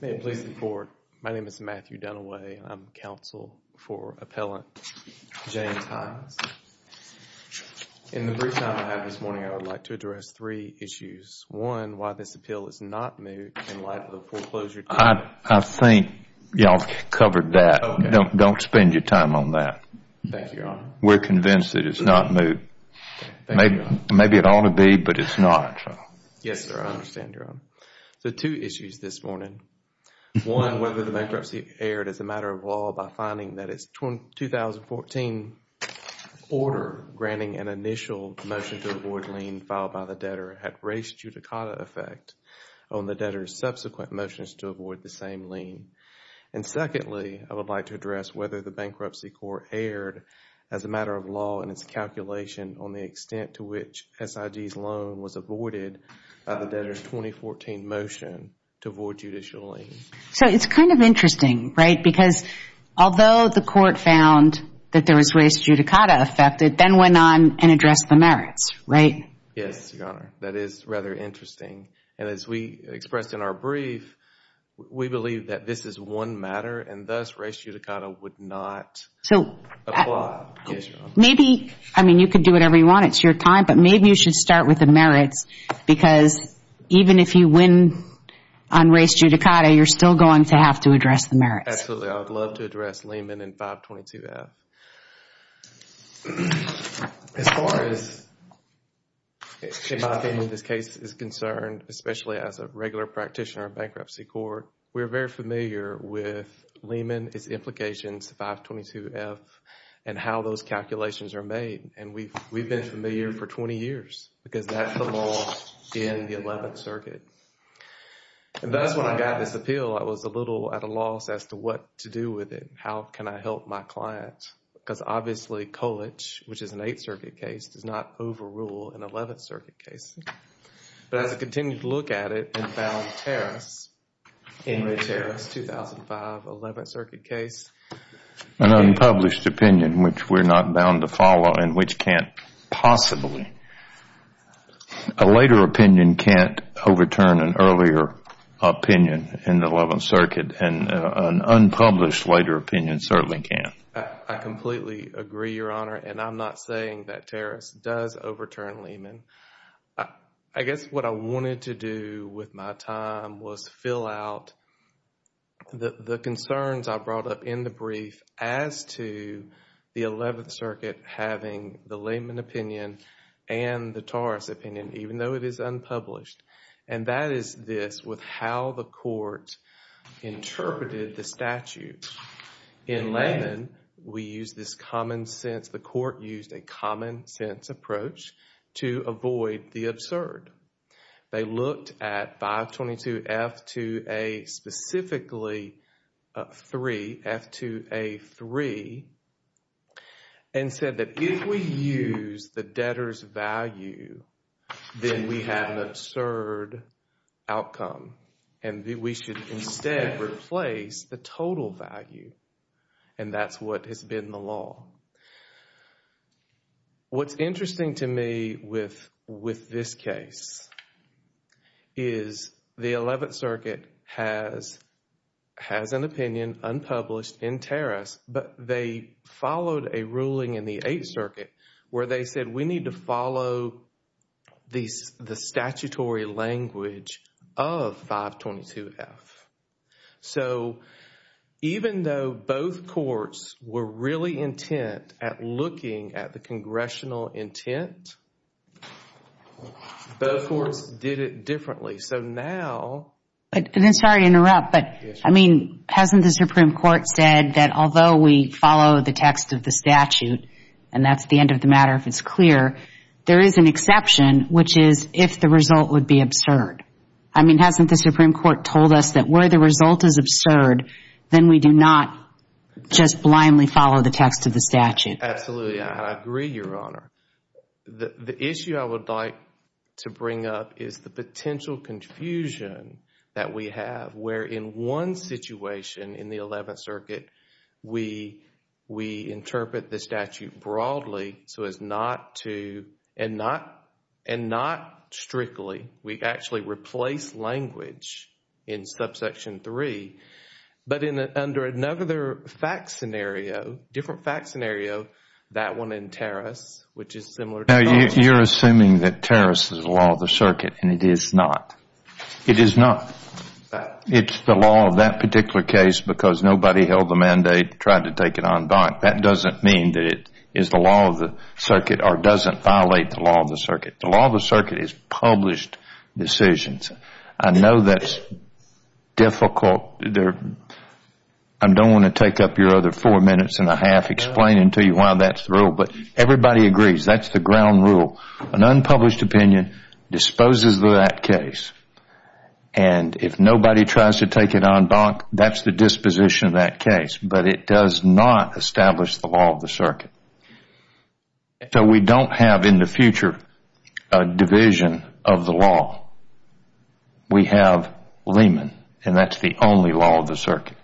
May it please the Court, my name is Matthew Dunaway. I'm counsel for appellant James Hines. In the brief time I have this morning, I would like to address three issues. One, why this appeal is not moot in light of the foreclosure. I think you all covered that. Don't spend your time on that. Thank you, Your Honor. We're convinced that it's not moot. Maybe it ought to be, but it's not. Yes, sir. I understand, Your Honor. So two issues this morning. One, whether the bankruptcy aired as a matter of law by finding that its 2014 order granting an initial motion to avoid lien filed by the debtor had raised judicata effect on the debtor's subsequent motions to avoid the same lien. And secondly, I would like to address whether the bankruptcy court aired as a matter of law in its calculation on the extent to which SIG's loan was avoided by the debtor's 2014 motion to avoid judicial lien. So it's kind of interesting, right? Because although the court found that there was raised judicata effect, it then went on and addressed the merits, right? Yes, Your Honor. That is rather interesting. And as we expressed in our brief, we believe that this is one matter and thus raised judicata would not apply. Maybe, I mean, you could do whatever you want. It's your time. But maybe you should start with the merits because even if you win on raised judicata, you're still going to have to address the merits. Absolutely. I would love to address Lehman and 522-F. As far as in my opinion this case is concerned, especially as a regular practitioner of bankruptcy court, we're very familiar with Lehman, its implications, 522-F, and how those calculations are made. And we've been familiar for 20 years because that's the law in the 11th Circuit. And that's when I got this appeal. I was a little at a loss as to what to do with it. How can I help my client? Because obviously, Colich, which is an 8th Circuit case, does not overrule an 11th Circuit case. But as I continued to look at it and found Tarras, Henry Tarras, 2005, 11th Circuit case. An unpublished opinion, which we're not bound to follow and which can't possibly. A later opinion can't overturn an earlier opinion in the 11th Circuit and an unpublished later opinion certainly can't. I completely agree, Your Honor, and I'm not saying that Tarras does overturn Lehman. I guess what I wanted to do with my time was fill out the concerns I brought up in the brief as to the 11th Circuit having the Lehman opinion and the Tarras opinion, even though it is unpublished. And that is this, with how the court interpreted the statute. In Lehman, we use this common sense, the court used a common sense approach to avoid the absurd. They looked at 522F2A, specifically 3, F2A3, and said that if we use the debtor's value, then we have an absurd outcome. And we should instead replace the total value. And that's what has been the law. What's interesting to me with this case is the 11th Circuit has an opinion unpublished in Tarras, but they followed a ruling in the 8th Circuit where they said we need to follow the statutory language of 522F. So even though both courts were really intent at looking at the congressional intent, both courts did it differently. Sorry to interrupt, but hasn't the Supreme Court said that although we follow the text of the statute, and that's the end of the matter if it's clear, there is an exception, which is if the result would be absurd. I mean, hasn't the Supreme Court told us that where the result is absurd, then we do not just blindly follow the text of the statute? Absolutely. I agree, Your Honor. The issue I would like to bring up is the potential confusion that we have where in one situation in the 11th Circuit, we interpret the statute broadly so as not to, and not strictly, we actually replace language in subsection 3. But under another fact scenario, different fact scenario, that one in Tarras, which is similar to ours. Now, you're assuming that Tarras is the law of the circuit, and it is not. It is not. It's the law of that particular case because nobody held the mandate, tried to take it en banc. That doesn't mean that it is the law of the circuit or doesn't violate the law of the circuit. The law of the circuit is published decisions. I know that's difficult. I don't want to take up your other four minutes and a half explaining to you why that's the rule. But everybody agrees that's the ground rule. An unpublished opinion disposes of that case, and if nobody tries to take it en banc, that's the disposition of that case. So we don't have in the future a division of the law. We have Lehman, and that's the only law of the circuit.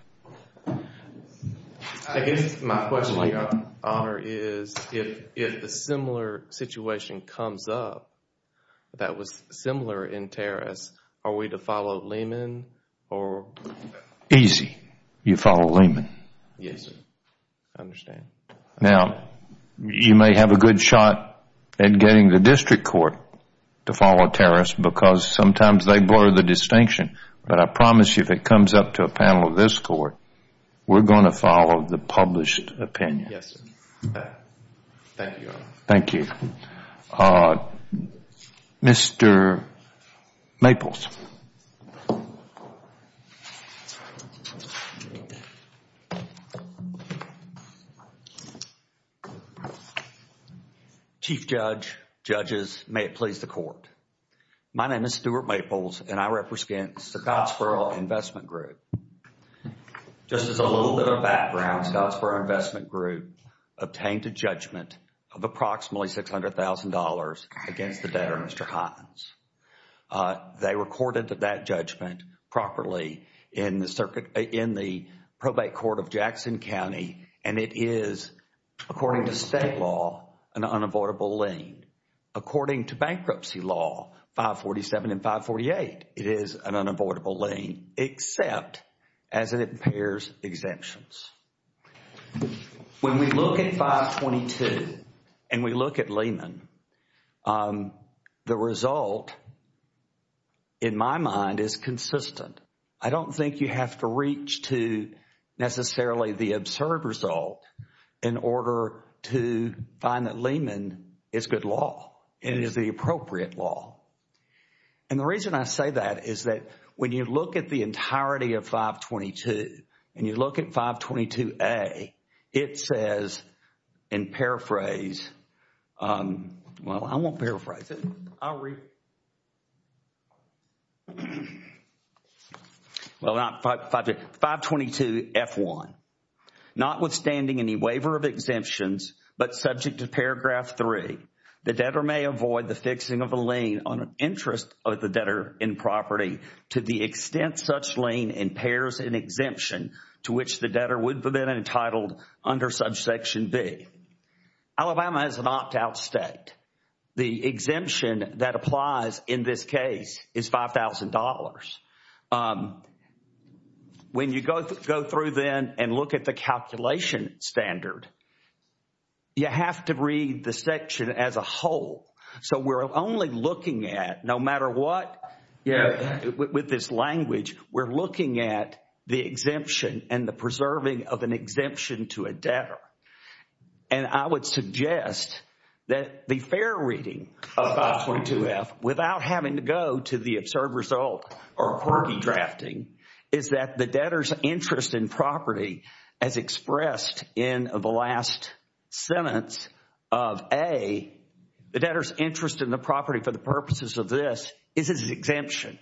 I guess my question, Your Honor, is if a similar situation comes up that was similar in Tarras, are we to follow Lehman? Easy. You follow Lehman. Yes, sir. I understand. Now, you may have a good shot at getting the district court to follow Tarras because sometimes they blur the distinction. But I promise you if it comes up to a panel of this court, we're going to follow the published opinion. Yes, sir. Thank you, Your Honor. Thank you. Mr. Maples. Chief Judge, judges, may it please the court. My name is Stuart Maples, and I represent Scottsboro Investment Group. Just as a little bit of background, Scottsboro Investment Group obtained a judgment of approximately $600,000 against the debtor, Mr. Hines. They recorded that judgment properly in the probate court of Jackson County, and it is, according to state law, an unavoidable lien. According to bankruptcy law 547 and 548, it is an unavoidable lien except as it impairs exemptions. When we look at 522 and we look at Lehman, the result, in my mind, is consistent. I don't think you have to reach to necessarily the absurd result in order to find that Lehman is good law and is the appropriate law. And the reason I say that is that when you look at the entirety of 522 and you look at 522A, it says, and paraphrase, well, I won't paraphrase it. I'll read. Well, not 522, 522F1. Notwithstanding any waiver of exemptions, but subject to paragraph 3, the debtor may avoid the fixing of a lien on interest of the debtor in property to the extent such lien impairs an exemption to which the debtor would have been entitled under subsection B. Alabama is an opt-out state. The exemption that applies in this case is $5,000. When you go through then and look at the calculation standard, you have to read the section as a whole. So we're only looking at, no matter what, with this language, we're looking at the exemption and the preserving of an exemption to a debtor. And I would suggest that the fair reading of 522F, without having to go to the absurd result or quirky drafting, is that the debtor's interest in property, as expressed in the last sentence of A, the debtor's interest in the property for the purposes of this is his exemption.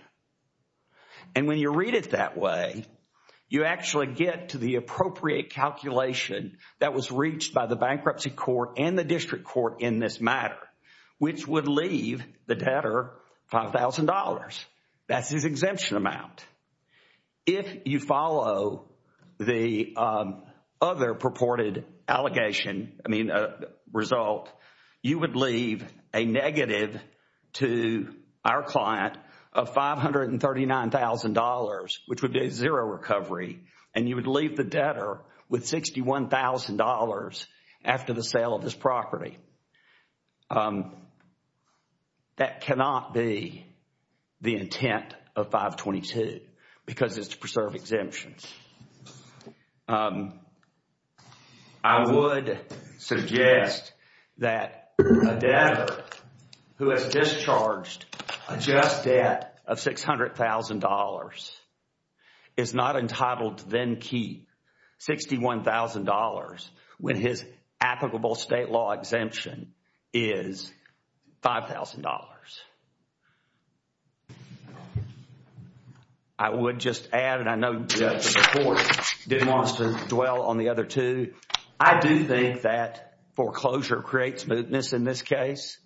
And when you read it that way, you actually get to the appropriate calculation that was reached by the bankruptcy court and the district court in this matter, which would leave the debtor $5,000. That's his exemption amount. If you follow the other purported result, you would leave a negative to our client of $539,000, which would be a zero recovery, and you would leave the debtor with $61,000 after the sale of this property. That cannot be the intent of 522, because it's to preserve exemptions. I would suggest that a debtor who has discharged a just debt of $600,000 is not entitled to then keep $61,000 when his applicable state law exemption is $5,000. I would just add, and I know the court wants to dwell on the other two, I do think that foreclosure creates mootness in this case.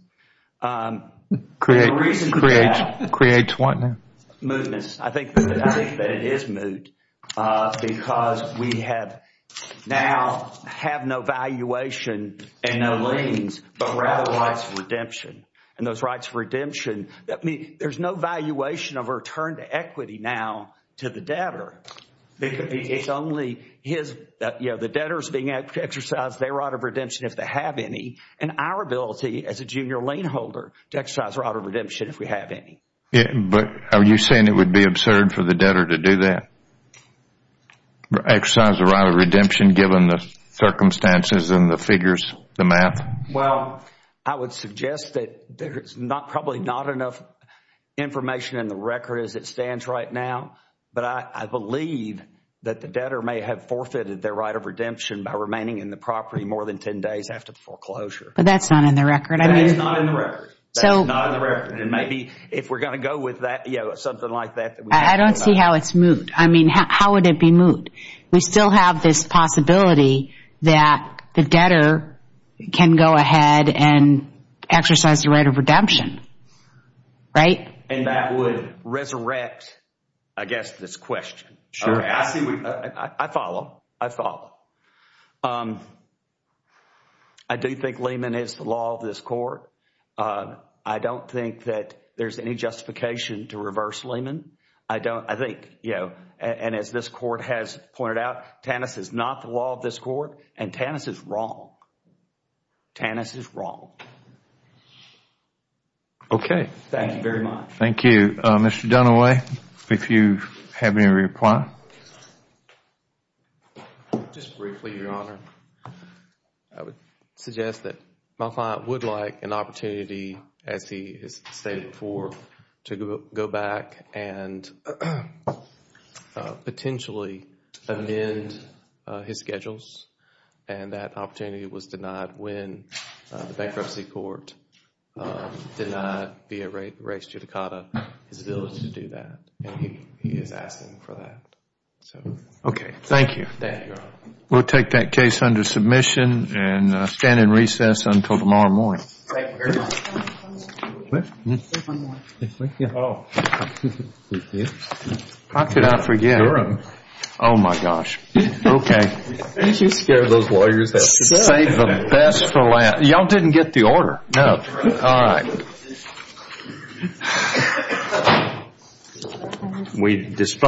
It creates what now? Mootness. I think that it is moot, because we now have no valuation and no liens, but rather rights of redemption. And those rights of redemption, there's no valuation of return to equity now to the debtor. It's only the debtor's being exercised their right of redemption if they have any, and our ability as a junior lien holder to exercise our right of redemption if we have any. But are you saying it would be absurd for the debtor to do that, exercise the right of redemption given the circumstances and the figures, the math? Well, I would suggest that there's probably not enough information in the record as it stands right now. But I believe that the debtor may have forfeited their right of redemption by remaining in the property more than 10 days after foreclosure. But that's not in the record. That is not in the record. That is not in the record. And maybe if we're going to go with that, something like that. I don't see how it's moot. I mean, how would it be moot? We still have this possibility that the debtor can go ahead and exercise the right of redemption, right? And that would resurrect, I guess, this question. Sure. I follow. I follow. I do think Lehman is the law of this court. I don't think that there's any justification to reverse Lehman. And as this Court has pointed out, Tannis is not the law of this court and Tannis is wrong. Tannis is wrong. Okay. Thank you very much. Thank you. Mr. Dunaway, if you have any reply. Just briefly, Your Honor. I would suggest that my client would like an opportunity, as he has stated before, to go back and potentially amend his schedules. And that opportunity was denied when the bankruptcy court denied via res judicata his ability to do that. And he is asking for that. Okay. Thank you. Thank you, Your Honor. We'll take that case under submission and stand in recess until tomorrow morning. Thank you very much. How could I forget? Sure. Oh, my gosh. Okay. You scare those lawyers. Save the best for last. Y'all didn't get the order. No. All right.